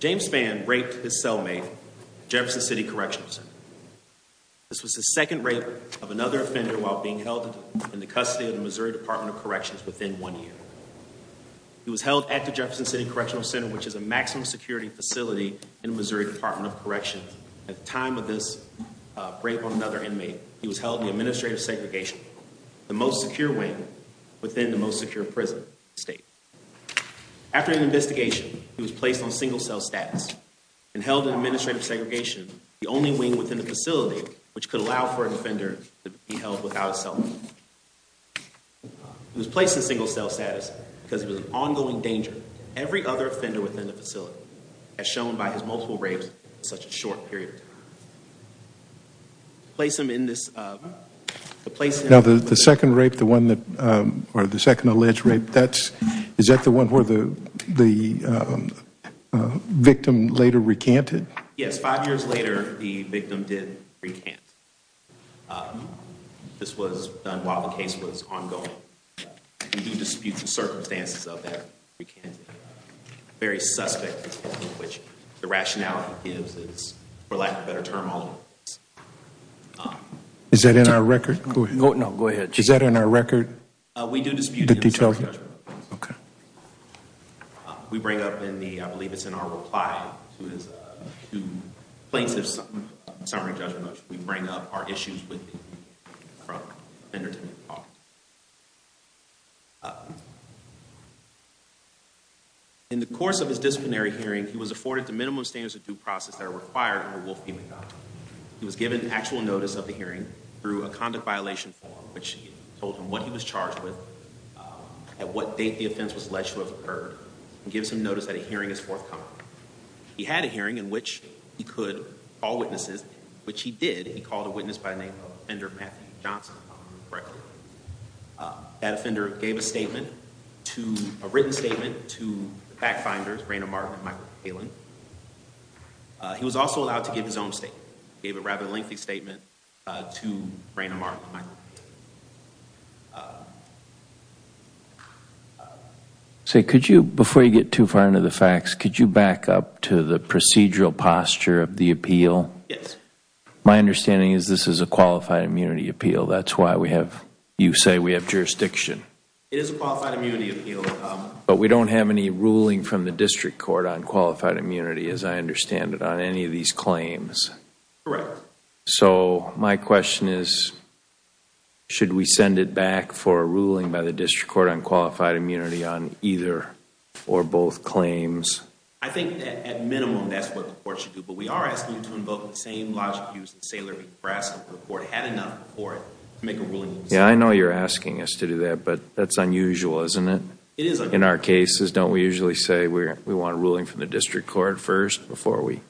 James Spann raped his cellmate at the Jefferson City Correctional Center. This was the second rape of another offender while being held in the custody of the Missouri Department of Corrections within one year. He was held at the Jefferson City Correctional Center, which is a maximum security facility in Missouri Department of Corrections. At the time of this rape on another inmate, he was held in administrative segregation, the most secure wing within the most secure prison state. After an investigation, he was placed on single cell status and held in administrative segregation, the only wing within the facility which could allow for an offender to be held without a cellmate. He was placed in single cell status because it was an ongoing danger to every other offender within the facility, as shown by his multiple rapes in such a short period of time. Place him in this place. Now the second rape, the one that or the second alleged rape, that's is that the one where the the victim later recanted? Yes, five years later, the victim did recant. This was done while the case was ongoing. We do dispute the circumstances of that. Very suspect, which the rationality gives is, for lack of a better term, Is that in our record? No, no, go ahead. Is that in our record? We do dispute the details. We bring up in the, I believe it's in our reply to plaintiff's summary judgment, we bring up our issues with the offender. In the course of his disciplinary hearing, he was afforded the minimum standards of due process that are required under Wolf-Pemigod. He was given actual notice of the hearing through a conduct violation form, which told him what he was charged with, at what date the offense was alleged to have occurred, and gives him notice that a hearing is forthcoming. He had a hearing in which he could call witnesses, which he did. He called a witness by the name of Offender Matthew Johnson, if I remember correctly. That offender gave a statement to, a written statement to the fact finders, Rayna Martin and Michael Kaelin. He was also allowed to give his own statement. Gave a rather lengthy statement to Rayna Martin and Michael Kaelin. So, could you, before you get too far into the facts, could you back up to the procedural posture of the appeal? Yes. My understanding is this is a qualified immunity appeal. That's why we have, you say we have jurisdiction. It is a qualified immunity appeal. But we don't have any ruling from the district court on qualified immunity, as I understand it, on any of these claims. Correct. So, my question is, should we send it back for a ruling by the district court on qualified immunity on either or both claims? I think that, at minimum, that's what the court should do. But we are asking you to invoke the same logic used in Saylor v. Brascombe. The court had enough of the court to make a ruling. Yeah, I know you're asking us to do that, but that's unusual, isn't it? It is unusual. In our cases, don't we usually say we want a ruling from the district court first, before we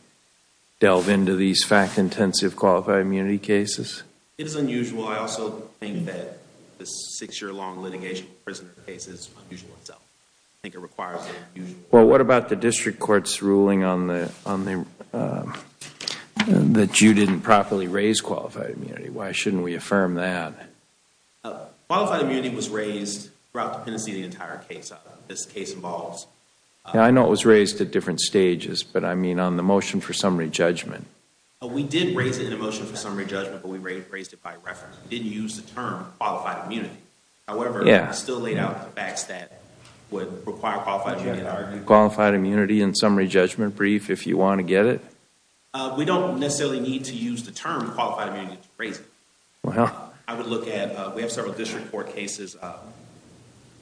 delve into these fact-intensive qualified immunity cases? It is unusual. I also think that the six-year-long litigation prisoner case is unusual itself. I think it requires an unusual ruling. Well, what about the district court's ruling that you didn't properly raise qualified immunity? Why shouldn't we affirm that? Qualified immunity was raised throughout the Pennsylvania entire case, as the case evolves. Yeah, I know it was raised at motion for summary judgment. We did raise it in a motion for summary judgment, but we raised it by reference. We didn't use the term qualified immunity. However, I still laid out the facts that would require qualified immunity in our case. Qualified immunity in summary judgment brief, if you want to get it? We don't necessarily need to use the term qualified immunity to raise it. I would look at, we have several district court cases,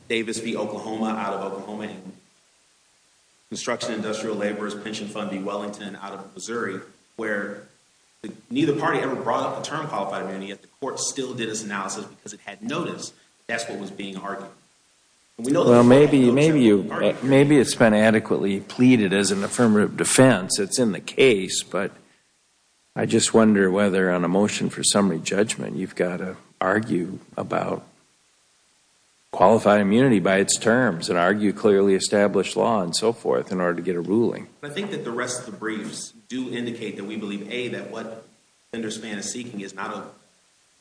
Davis v. Oklahoma out of Oklahoma, and construction industrial labor's pension fund v. Wellington out of Missouri, where neither party ever brought up the term qualified immunity, yet the court still did its analysis because it had noticed that's what was being argued. Well, maybe it's been adequately pleaded as an affirmative defense. It's in the case, but I just wonder whether on a motion for summary and so forth in order to get a ruling. I think that the rest of the briefs do indicate that we believe A, that what Fender Span is seeking is not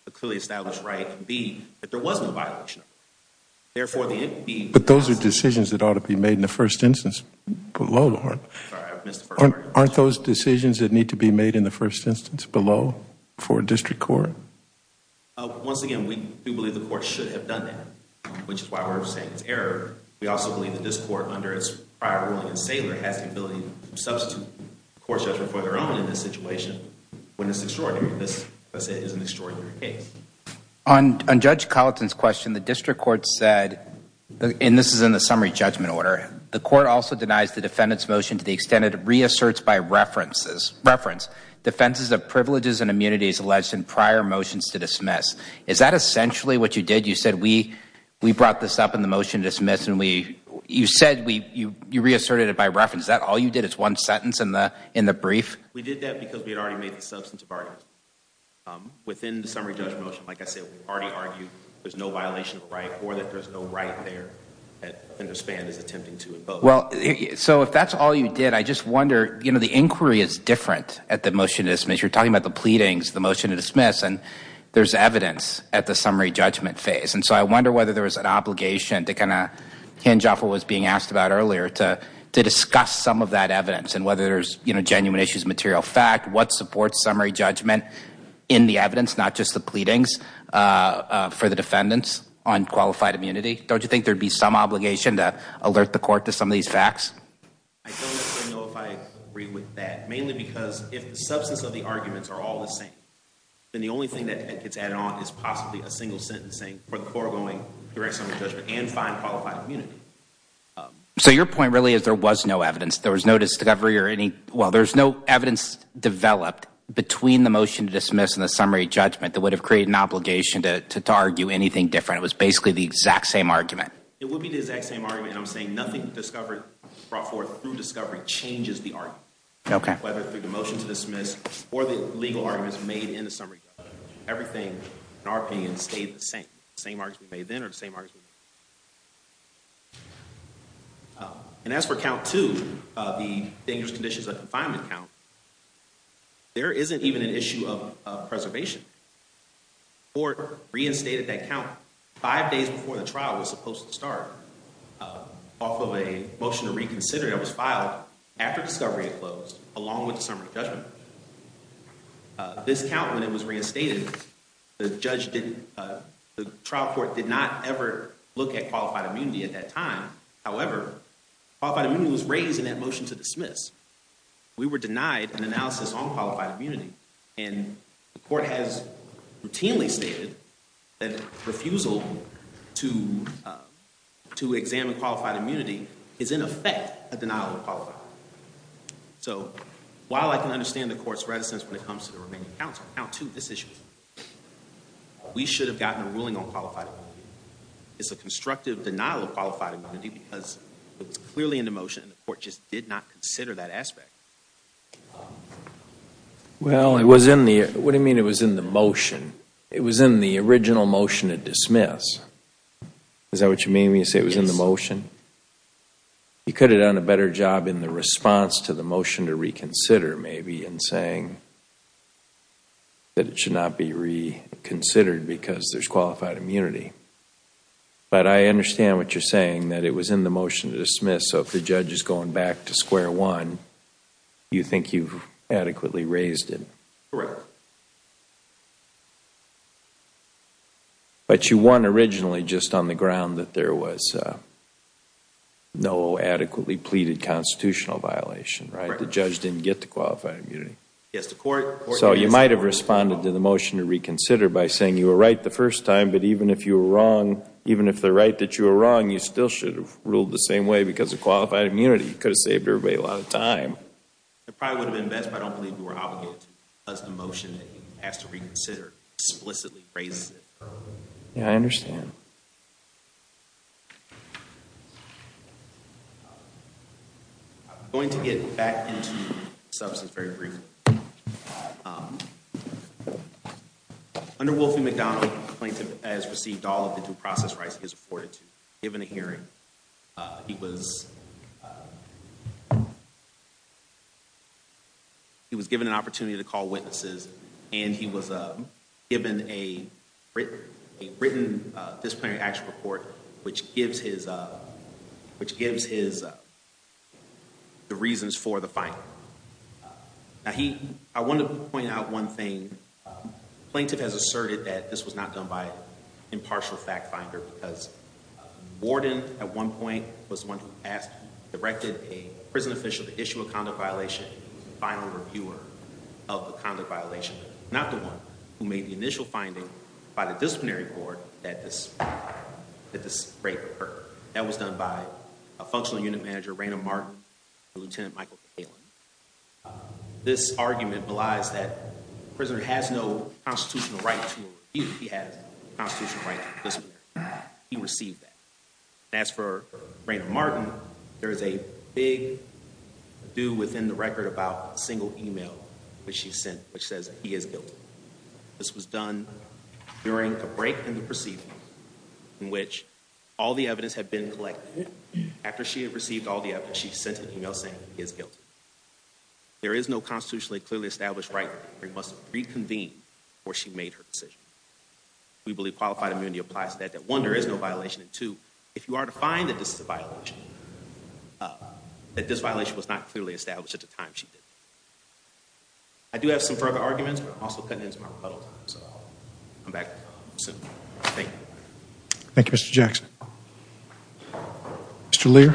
a clearly established right. B, that there was no violation. But those are decisions that ought to be made in the first instance. Aren't those decisions that need to be made in the first instance below for district court? Once again, we do believe the court should have done that, which is why we're saying it's error. We also believe that this court, under its prior ruling in Saylor, has the ability to substitute court judgment for their own in this situation, when it's extraordinary. This, as I said, is an extraordinary case. On Judge Colleton's question, the district court said, and this is in the summary judgment order, the court also denies the defendant's motion to the extent it reasserts by reference, defenses of privileges and immunities alleged in prior motions to dismiss. Is that essentially what you did? You said, we brought this up in the motion to dismiss, and you said you reasserted it by reference. Is that all you did? It's one sentence in the brief? We did that because we had already made the substantive argument. Within the summary judgment motion, like I said, we already argued there's no violation of right or that there's no right there that Fender Span is attempting to impose. Well, so if that's all you did, I just wonder, you know, the inquiry is different at the motion to dismiss. You're talking about the pleadings, the motion to dismiss, and there's evidence at the summary judgment phase. I wonder whether there was an obligation to kind of hinge off of what was being asked about earlier to discuss some of that evidence and whether there's genuine issues, material fact, what supports summary judgment in the evidence, not just the pleadings for the defendants on qualified immunity. Don't you think there'd be some obligation to alert the court to some of these facts? I don't know if I agree with that, mainly because if the substance of the arguments are all the same, then the only thing that gets added on is possibly a single sentencing for the foregoing direct summary judgment and fine qualified immunity. So your point really is there was no evidence. There was no discovery or any, well, there's no evidence developed between the motion to dismiss and the summary judgment that would have created an obligation to argue anything different. It was basically the exact same argument. It would be the exact same argument, and I'm saying nothing discovered brought forth through discovery changes the argument. Okay. Whether through the motion to dismiss or the legal arguments made in the summary judgment, everything in our opinion stayed the same. Same argument made then or the same argument. And as for count two, the dangerous conditions of confinement count, there isn't even an issue of preservation. Court reinstated that count five days before the trial was supposed to start off of a motion to reconsider that was filed after discovery had closed along with the summary judgment. This count when it was reinstated, the trial court did not ever look at qualified immunity at that time. However, qualified immunity was raised in that motion to dismiss. We were denied an analysis on qualified immunity, and the court has routinely stated that refusal to examine qualified immunity is in effect a denial of qualified. So while I can understand the court's reticence when it comes to the remaining counts, count two, this issue, we should have gotten a ruling on qualified immunity. It's a constructive denial of qualified immunity because it was clearly in the motion, and the court just did not consider that aspect. Well, it was in the, what do you mean it was in the motion? It was in the original motion to dismiss. Is that what you mean when you say it was in the motion? You could have done a better job in the response to the motion to reconsider maybe in saying that it should not be reconsidered because there's qualified immunity. But I understand what you're saying, that it was in the motion to dismiss. So if the judge is going back to square one, you think you've adequately raised it. But you won originally just on the ground that there was no adequately pleaded constitutional violation, right? The judge didn't get the qualified immunity. Yes, the court. So you might have responded to the motion to reconsider by saying you were right the first time, but even if you were wrong, even if they're right that you were wrong, you still should have ruled the same way because of qualified immunity. You could have saved everybody a lot of time. It probably would have been best, but I don't believe you were obligated to because the motion has to reconsider explicitly raised it. Yeah, I understand. I'm going to get back into the substance very briefly. Under Wolfie McDonald, the plaintiff has received all of the due process rights he is afforded to. Given a hearing, he was given an opportunity to call witnesses, and he was given a written disciplinary action report, which gives his the reasons for the finding. Now, I want to point out one thing. Plaintiff has asserted that this was not done by an impartial fact finder because the warden at one point was the one who directed a prison official to issue a conduct violation to the final reviewer of the conduct violation, not the one who made the initial finding by the disciplinary board that this rape occurred. That was done by a functional unit manager, Raina Martin, and Lieutenant Michael Kaelin. This argument belies that the prisoner has no constitutional right to a review. He has a constitutional right to a disciplinary action. He received that. As for Raina Martin, there is a big ado within the record about a single email which she sent which says he is guilty. This was done during the break in the proceedings in which all the evidence had been collected. After she had there is no constitutionally clearly established right for him to reconvene before she made her decision. We believe qualified immunity applies to that, that one, there is no violation, and two, if you are to find that this is a violation, that this violation was not clearly established at the time she did it. I do have some further arguments, but I'm also cutting into my rebuttal time, so I'll come back soon. Thank you. Thank you, Mr. Jackson. Mr. Lear.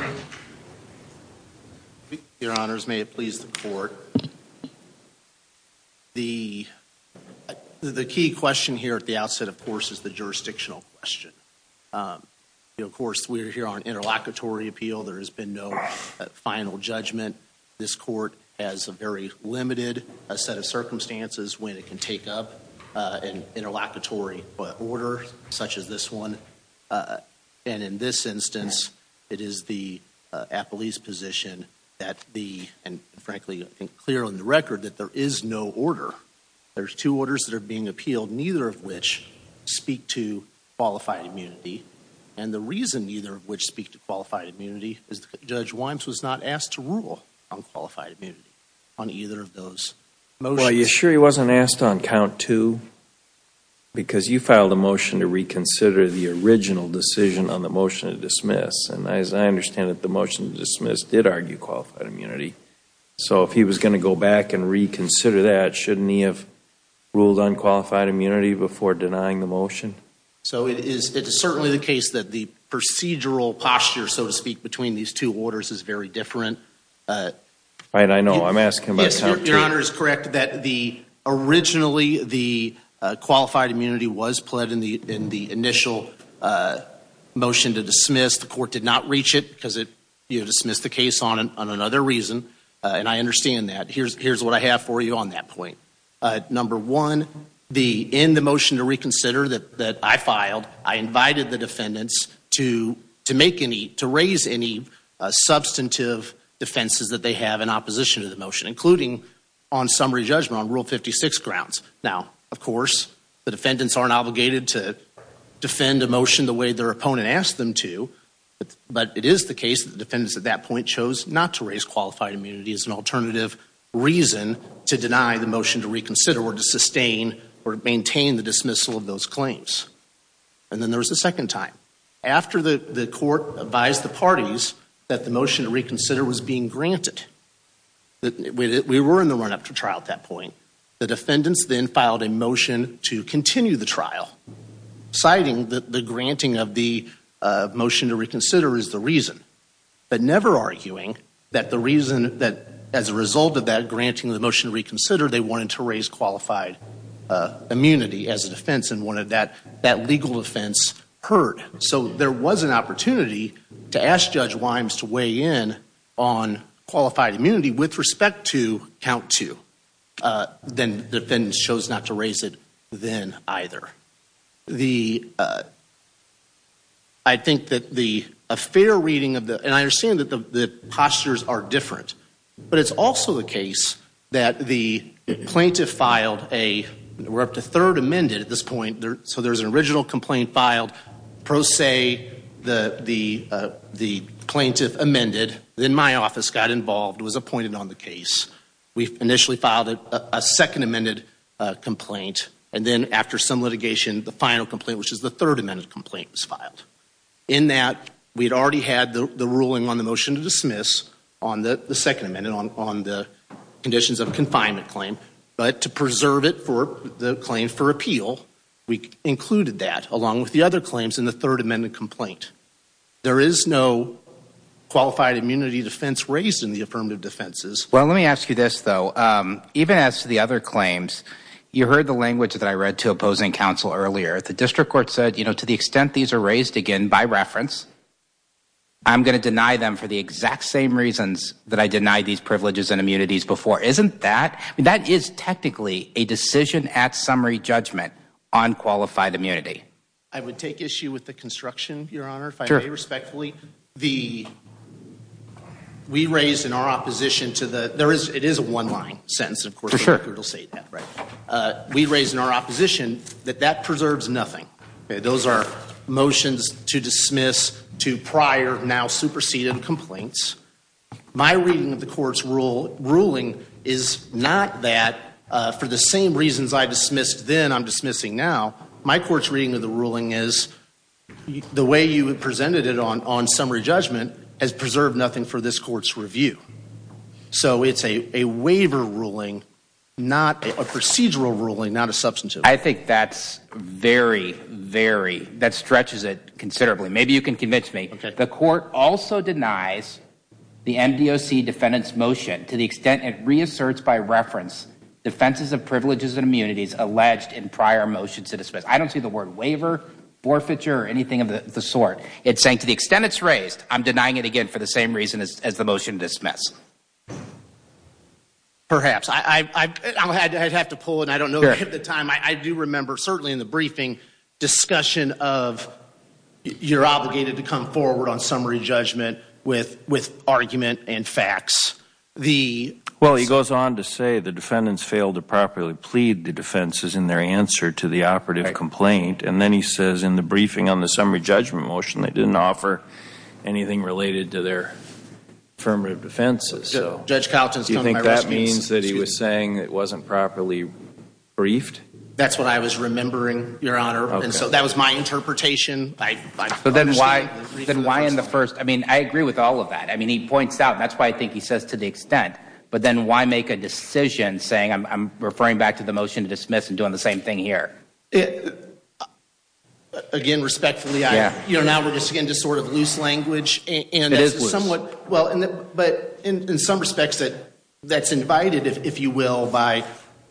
Your honors, may it please the court. The key question here at the outset, of course, is the jurisdictional question. Of course, we're here on interlocutory appeal. There has been no final judgment. This court has a very limited set of circumstances when it can take up an interlocutory order such as this one, and in this instance, it is the appellee's position that the, and frankly, I think clear on the record that there is no order. There's two orders that are being appealed, neither of which speak to qualified immunity, and the reason neither of which speak to qualified immunity is that Judge Wimes was not asked to rule on qualified immunity on either of those motions. Well, you're sure he wasn't asked on count two? Because you filed a motion to reconsider the original decision on the motion to dismiss, and as I understand it, the motion to dismiss did argue qualified immunity, so if he was going to go back and reconsider that, shouldn't he have ruled on qualified immunity before denying the motion? So it is certainly the case that the procedural posture, so to speak, between these two orders is very different. Right, I know. I'm asking about count two. Your honor is correct that the, originally, the qualified immunity was pled in the initial motion to dismiss. The court did not reach it because it dismissed the case on another reason, and I understand that. Here's what I have for you on that point. Number one, in the motion to reconsider that I filed, I invited the defendants to make any, to raise any substantive defenses that they have in opposition to the motion, including on summary judgment, on Rule 56 grounds. Now, of course, the defendants aren't obligated to defend a motion the way their opponent asked them to, but it is the case that the defendants at that point chose not to raise qualified immunity as an alternative reason to deny the motion to reconsider or to sustain or to maintain the dismissal of those claims. And then there was a second time. After the court advised the parties that the motion to reconsider was being granted, we were in the run-up to trial at that point, the defendants then filed a motion to continue the trial, citing that the granting of the motion to reconsider is the reason, but never arguing that the reason that, as a result of that granting the motion to reconsider, they wanted to raise qualified immunity as a defense and wanted that legal offense heard. So there was an opportunity to ask Judge Wimes to weigh in on qualified immunity with respect to count two. Then the defendants chose not to raise it then either. I think that the affair reading of the, and I understand that the postures are different, but it's also the case that the plaintiff filed a, we're up to third amended at this point, so there's an original complaint filed, pro se, the plaintiff amended, then my office got involved, was appointed on the case. We initially filed a second amended complaint, and then after some litigation, the final complaint, which is the third amended complaint, was filed. In that, we had already had the ruling on the motion to dismiss on the second amendment on the conditions of confinement claim, but to along with the other claims in the third amended complaint. There is no qualified immunity defense raised in the affirmative defenses. Well, let me ask you this though. Even as to the other claims, you heard the language that I read to opposing counsel earlier. The district court said, you know, to the extent these are raised again by reference, I'm going to deny them for the exact same reasons that I denied these privileges and immunities before. Isn't that, that is technically a decision at summary judgment on qualified immunity? I would take issue with the construction, your honor, if I may respectfully. The, we raised in our opposition to the, there is, it is a one line sentence, of course, it'll say that, right? We raised in our opposition that that preserves nothing. Those are motions to dismiss to prior, now superseded complaints. My reading of the same reasons I dismissed then, I'm dismissing now. My court's reading of the ruling is the way you presented it on, on summary judgment has preserved nothing for this court's review. So it's a, a waiver ruling, not a procedural ruling, not a substantive. I think that's very, very, that stretches it considerably. Maybe you can convince me. The court also denies the MDOC defendant's motion to the extent it reasserts by reference defenses of privileges and immunities alleged in prior motions to dismiss. I don't see the word waiver, forfeiture, or anything of the sort. It's saying to the extent it's raised, I'm denying it again for the same reason as the motion to dismiss. Perhaps. I, I, I, I'll have to, I'd have to pull it. I don't know at the time. I, I do remember certainly in the briefing discussion of you're obligated to come forward on summary judgment with, with argument and facts. The. Well, he goes on to say the defendants failed to properly plead the defenses in their answer to the operative complaint. And then he says in the briefing on the summary judgment motion, they didn't offer anything related to their affirmative defenses. So. Judge Calton's. Do you think that means that he was saying it wasn't properly briefed? That's what I was remembering your honor. And so that was my first, I mean, I agree with all of that. I mean, he points out and that's why I think he says to the extent, but then why make a decision saying I'm, I'm referring back to the motion to dismiss and doing the same thing here. Again, respectfully, you know, now we're just getting to sort of loose language and somewhat well, but in some respects that that's invited, if you will, by,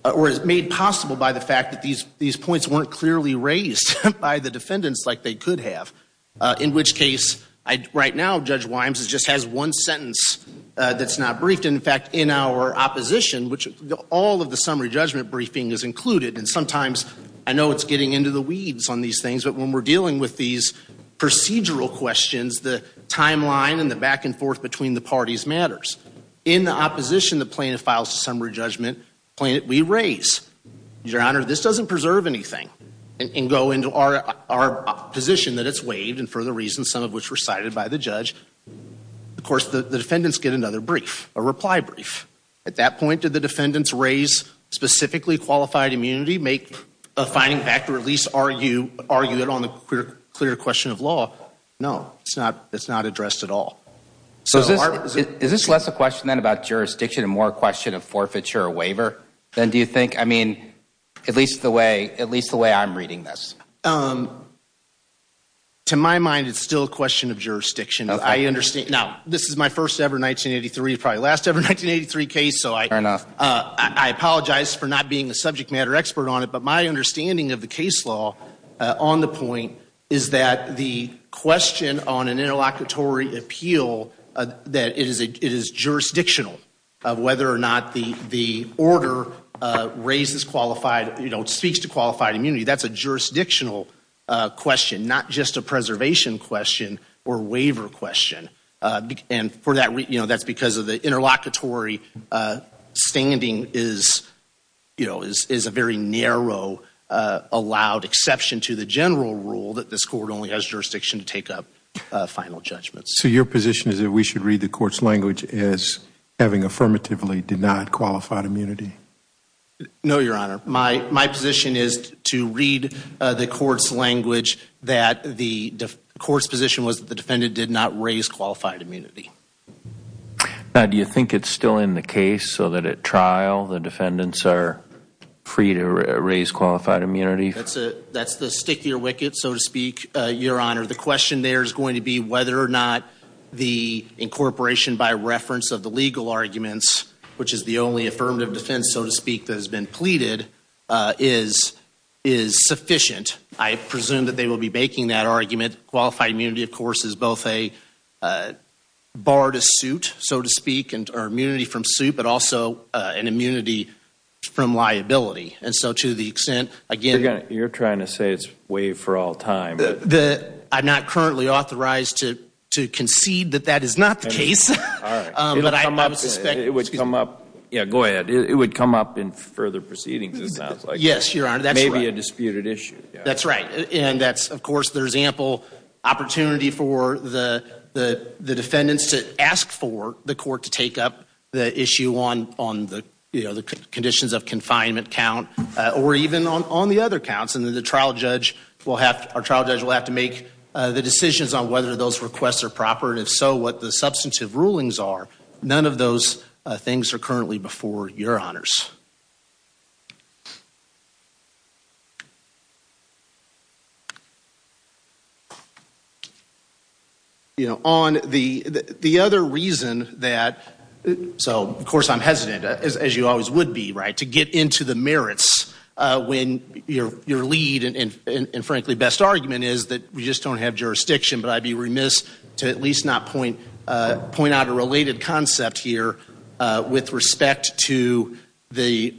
or is made possible by the fact that these, these points weren't clearly raised by the defendants like they could have, uh, in which case I right now, judge Wimes is just has one sentence. Uh, that's not briefed. And in fact, in our opposition, which all of the summary judgment briefing is included. And sometimes I know it's getting into the weeds on these things, but when we're dealing with these procedural questions, the timeline and the back and forth between the parties matters in the opposition, the plaintiff files, the summary judgment plan that we raise your honor, this doesn't preserve anything and go into our, our position that it's waived. And for the reasons, some of which were cited by the judge, of course, the defendants get another brief, a reply brief at that point to the defendants raise specifically qualified immunity, make a finding back to release. Are you, are you at all in the clear, clear question of law? No, it's not, it's not addressed at all. So is this less a question then about jurisdiction and more question of forfeiture or waiver then do you think, I mean, at least the way, at least the way I'm reading this, um, to my mind, it's still a question of jurisdiction. I understand now this is my first ever 1983 probably last ever 1983 case. So I, uh, I apologize for not being a subject matter expert on it, but my understanding of the case law on the point is that the question on an the, the order, uh, raises qualified, you know, it speaks to qualified immunity. That's a jurisdictional a question, not just a preservation question or waiver question. Uh, and for that reason, you know, that's because of the interlocutory, uh, standing is, you know, is, is a very narrow, uh, allowed exception to the general rule that this court only has jurisdiction to take up, uh, final judgments. So your position is that we should read the court's language as having affirmatively denied qualified immunity? No, Your Honor. My, my position is to read, uh, the court's language that the court's position was that the defendant did not raise qualified immunity. Now, do you think it's still in the case so that at trial the defendants are free to raise qualified immunity? That's a, that's the stickier wicket, so to speak, uh, Your Honor. The question there is going to be whether or not the incorporation by reference of the legal arguments, which is the only affirmative defense, so to speak, that has been pleaded, uh, is, is sufficient. I presume that they will be baking that argument. Qualified immunity, of course, is both a, uh, bar to suit, so to speak, and or immunity from suit, but also, uh, an immunity from liability. And so to the extent, again, You're trying to say it's waived for all time. The, I'm not currently authorized to, to concede that that is not the case. It would come up. Yeah, go ahead. It would come up in further proceedings, it sounds like. Yes, Your Honor, that's right. Maybe a disputed issue. That's right. And that's, of course, there's ample opportunity for the, the, the defendants to ask for the court to take up the issue on, on the, you know, the conditions of confinement count, or even on, on the other counts. And then the trial judge will have, our trial judge will have to make, uh, the decisions on whether those requests are proper, and if so, what the substantive rulings are. None of those, uh, things are currently before Your Honors. You know, on the, the other reason that, so, of course, I'm hesitant, as, as you always would be, right, to get into the merits, uh, when your, your lead, and, and, and, frankly, best argument is that we just don't have jurisdiction. But I'd be remiss to at least not point, uh, point out a related concept here, uh, with respect to the,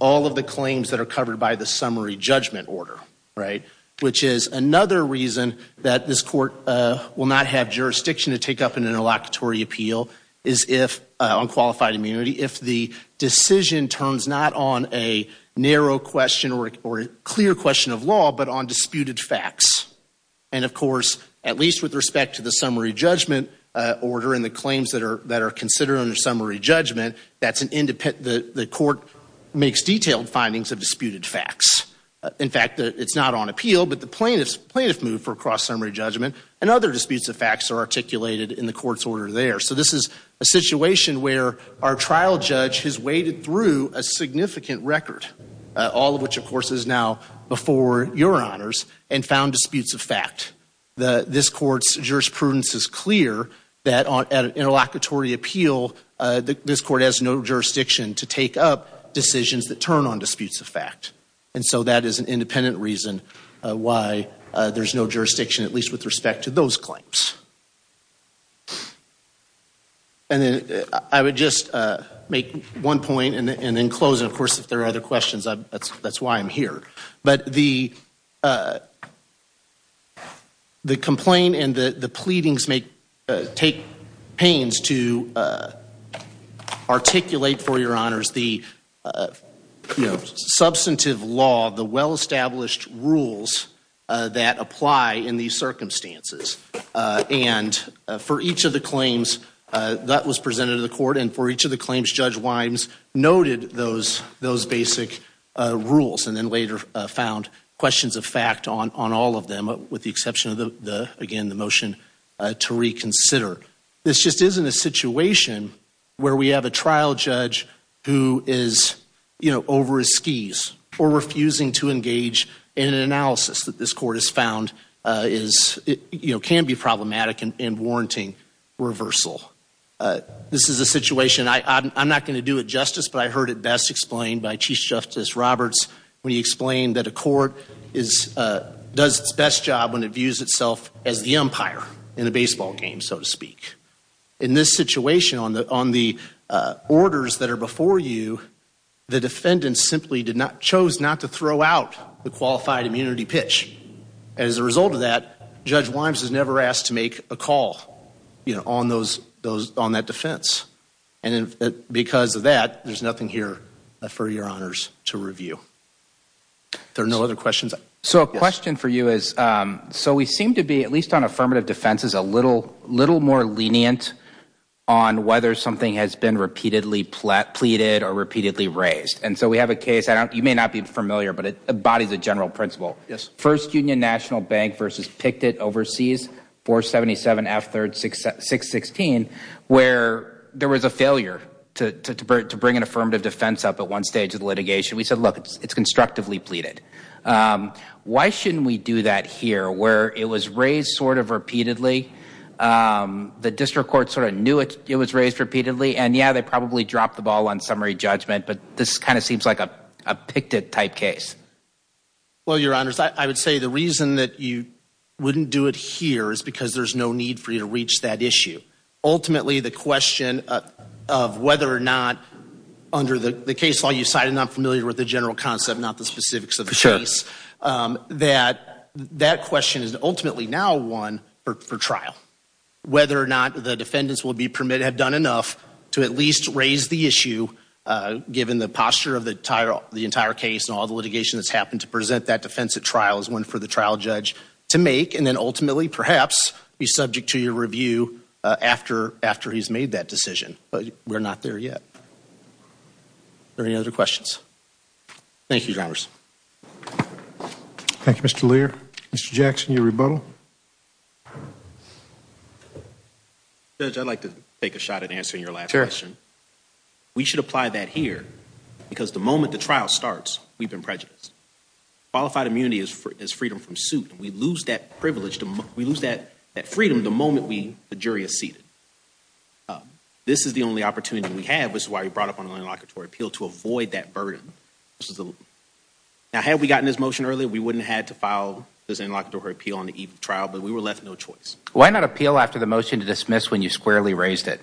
all of the claims that are covered by the summary judgment order, right, which is another reason that this court, uh, will not have jurisdiction to take up an interlocutory appeal is if, uh, if the decision turns not on a narrow question or, or a clear question of law, but on disputed facts. And, of course, at least with respect to the summary judgment, uh, order and the claims that are, that are considered under summary judgment, that's an independent, the, the court makes detailed findings of disputed facts. In fact, the, it's not on appeal, but the plaintiffs, plaintiffs move for cross-summary judgment, and other disputes of facts are articulated in the court's order there. So this is a situation where our trial judge has waded through a significant record, uh, all of which, of course, is now before your honors, and found disputes of fact. The, this court's jurisprudence is clear that on, at an interlocutory appeal, uh, this court has no jurisdiction to take up decisions that turn on disputes of fact. And so that is an independent reason, uh, why, uh, there's no jurisdiction, at least with respect to those claims. And then I would just, uh, make one point and, and then close, and of course, if there are other questions, I'm, that's, that's why I'm here. But the, uh, the complaint and the, the pleadings make, uh, take pains to, uh, articulate for your circumstances. Uh, and, uh, for each of the claims, uh, that was presented to the court, and for each of the claims, Judge Wimes noted those, those basic, uh, rules, and then later, uh, found questions of fact on, on all of them, with the exception of the, the, again, the motion, uh, to reconsider. This just isn't a situation where we have a trial judge who is, you know, over his skis, or refusing to engage in an analysis that this court has found, uh, is, you know, can be problematic and, and warranting reversal. Uh, this is a situation, I, I'm, I'm not going to do it justice, but I heard it best explained by Chief Justice Roberts when he explained that a court is, uh, does its best job when it views itself as the umpire in the baseball game, so to speak. In this situation, on the, on the, uh, orders that are before you, the defendant simply did not, chose not to throw out the qualified immunity pitch, and as a result of that, Judge Wimes is never asked to make a call, you know, on those, those, on that defense, and because of that, there's nothing here for your honors to review. There are no other questions? So a question for you is, um, so we seem to be, at least on affirmative defenses, a little, little more lenient on whether something has been repeatedly pleaded or repeatedly raised, and so we have a case, I don't, you may not be familiar, but it embodies a general principle. Yes. First Union National Bank versus Pictet Overseas, 477 F 3rd 616, where there was a failure to, to, to bring an affirmative defense up at one stage of the litigation. We said, look, it's constructively pleaded. Um, why shouldn't we do that here, where it was raised sort of repeatedly, um, the district court sort of it was raised repeatedly, and yeah, they probably dropped the ball on summary judgment, but this kind of seems like a, a Pictet type case. Well, your honors, I, I would say the reason that you wouldn't do it here is because there's no need for you to reach that issue. Ultimately, the question of, of whether or not under the case law you cited, I'm familiar with the general concept, not the specifics of the case, um, that, that question is ultimately now one for, for me to have done enough to at least raise the issue, uh, given the posture of the entire, the entire case and all the litigation that's happened to present that defense at trial is one for the trial judge to make. And then ultimately perhaps be subject to your review, uh, after, after he's made that decision, but we're not there yet. Are there any other questions? Thank you, drivers. Thank you, Mr. Lear. Mr. Jackson, your rebuttal. Judge, I'd like to take a shot at answering your last question. We should apply that here because the moment the trial starts, we've been prejudiced. Qualified immunity is for, is freedom from suit. We lose that privilege to, we lose that, that freedom the moment we, the jury is seated. Um, this is the only opportunity we have. This is why we brought up on an interlocutory appeal to avoid that burden. This is the, now, had we gotten this but we were left no choice. Why not appeal after the motion to dismiss when you squarely raised it?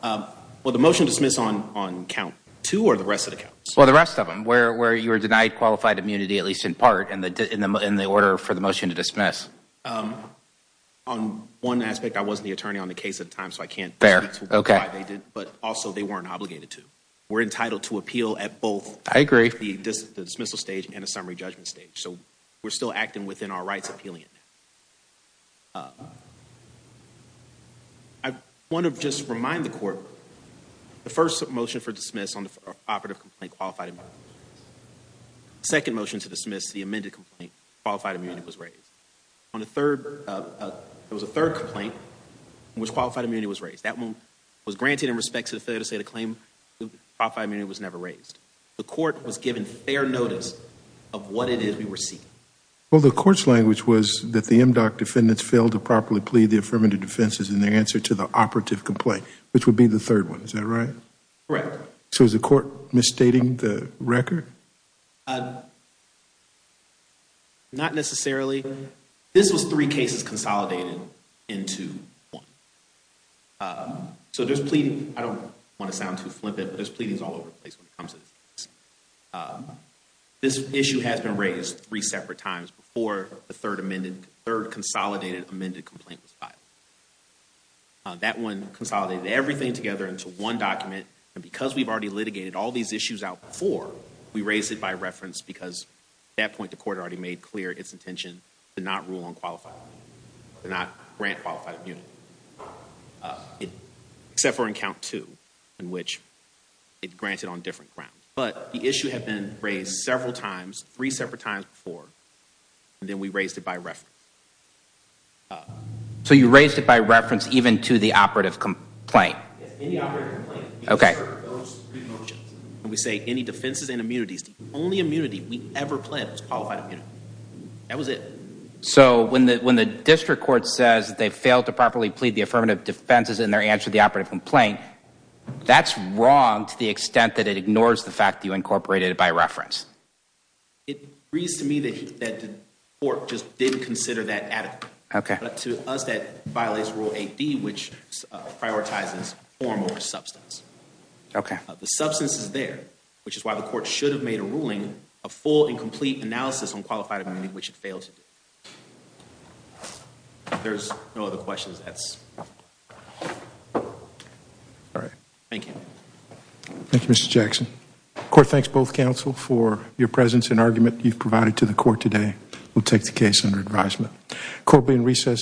Um, well, the motion to dismiss on, on count two or the rest of the counts? Well, the rest of them where, where you were denied qualified immunity, at least in part in the, in the, in the order for the motion to dismiss. Um, on one aspect, I wasn't the attorney on the case at the time, so I can't. Fair. Okay. But also they weren't obligated to. We're entitled to appeal at both. I agree. The dismissal stage and a summary judgment stage. So we're still acting within our rights appealing it now. Um, I want to just remind the court, the first motion for dismiss on the operative complaint, qualified immunity, second motion to dismiss the amended complaint, qualified immunity was raised. On the third, uh, uh, there was a third complaint in which qualified immunity was raised. That one was granted in respect to the failure to say the claim qualified immunity was never raised. The court was given fair notice of what it is we were seeking. Well, the court's language was that the MDOC defendants failed to properly plead the affirmative defenses in their answer to the operative complaint, which would be the third one. Is that right? Correct. So is the court misstating the record? Uh, not necessarily. This was three cases consolidated into one. Uh, so there's pleading. I don't want to sound too flippant, there's pleadings all over the place when it comes to this. Uh, this issue has been raised three separate times before the third amended, third consolidated amended complaint was filed. That one consolidated everything together into one document. And because we've already litigated all these issues out before, we raised it by reference because at that point, the court already made clear its intention to not rule on qualified immunity, to not grant qualified immunity. Uh, except for in count two, in which it's granted on different grounds. But the issue had been raised several times, three separate times before, and then we raised it by reference. So you raised it by reference even to the operative complaint? Yes, any operative complaint. Okay. And we say any defenses and immunities, the only immunity we ever planned was qualified immunity. That was it. So when the, when the district court says they failed to properly plead the affirmative defenses in their answer to the operative complaint, that's wrong to the extent that it ignores the fact that you incorporated it by reference. It agrees to me that the court just didn't consider that adequate. Okay. But to us, that violates Rule 8D, which prioritizes form over substance. Okay. The substance is there, which is why the court should have made a ruling, a full and complete analysis on qualified immunity, which it failed to do. If there's no other questions, that's all right. Thank you. Thank you, Mr. Jackson. Court thanks both counsel for your presence and argument you've provided to the court today. We'll take the case under advisement. Court being recessed.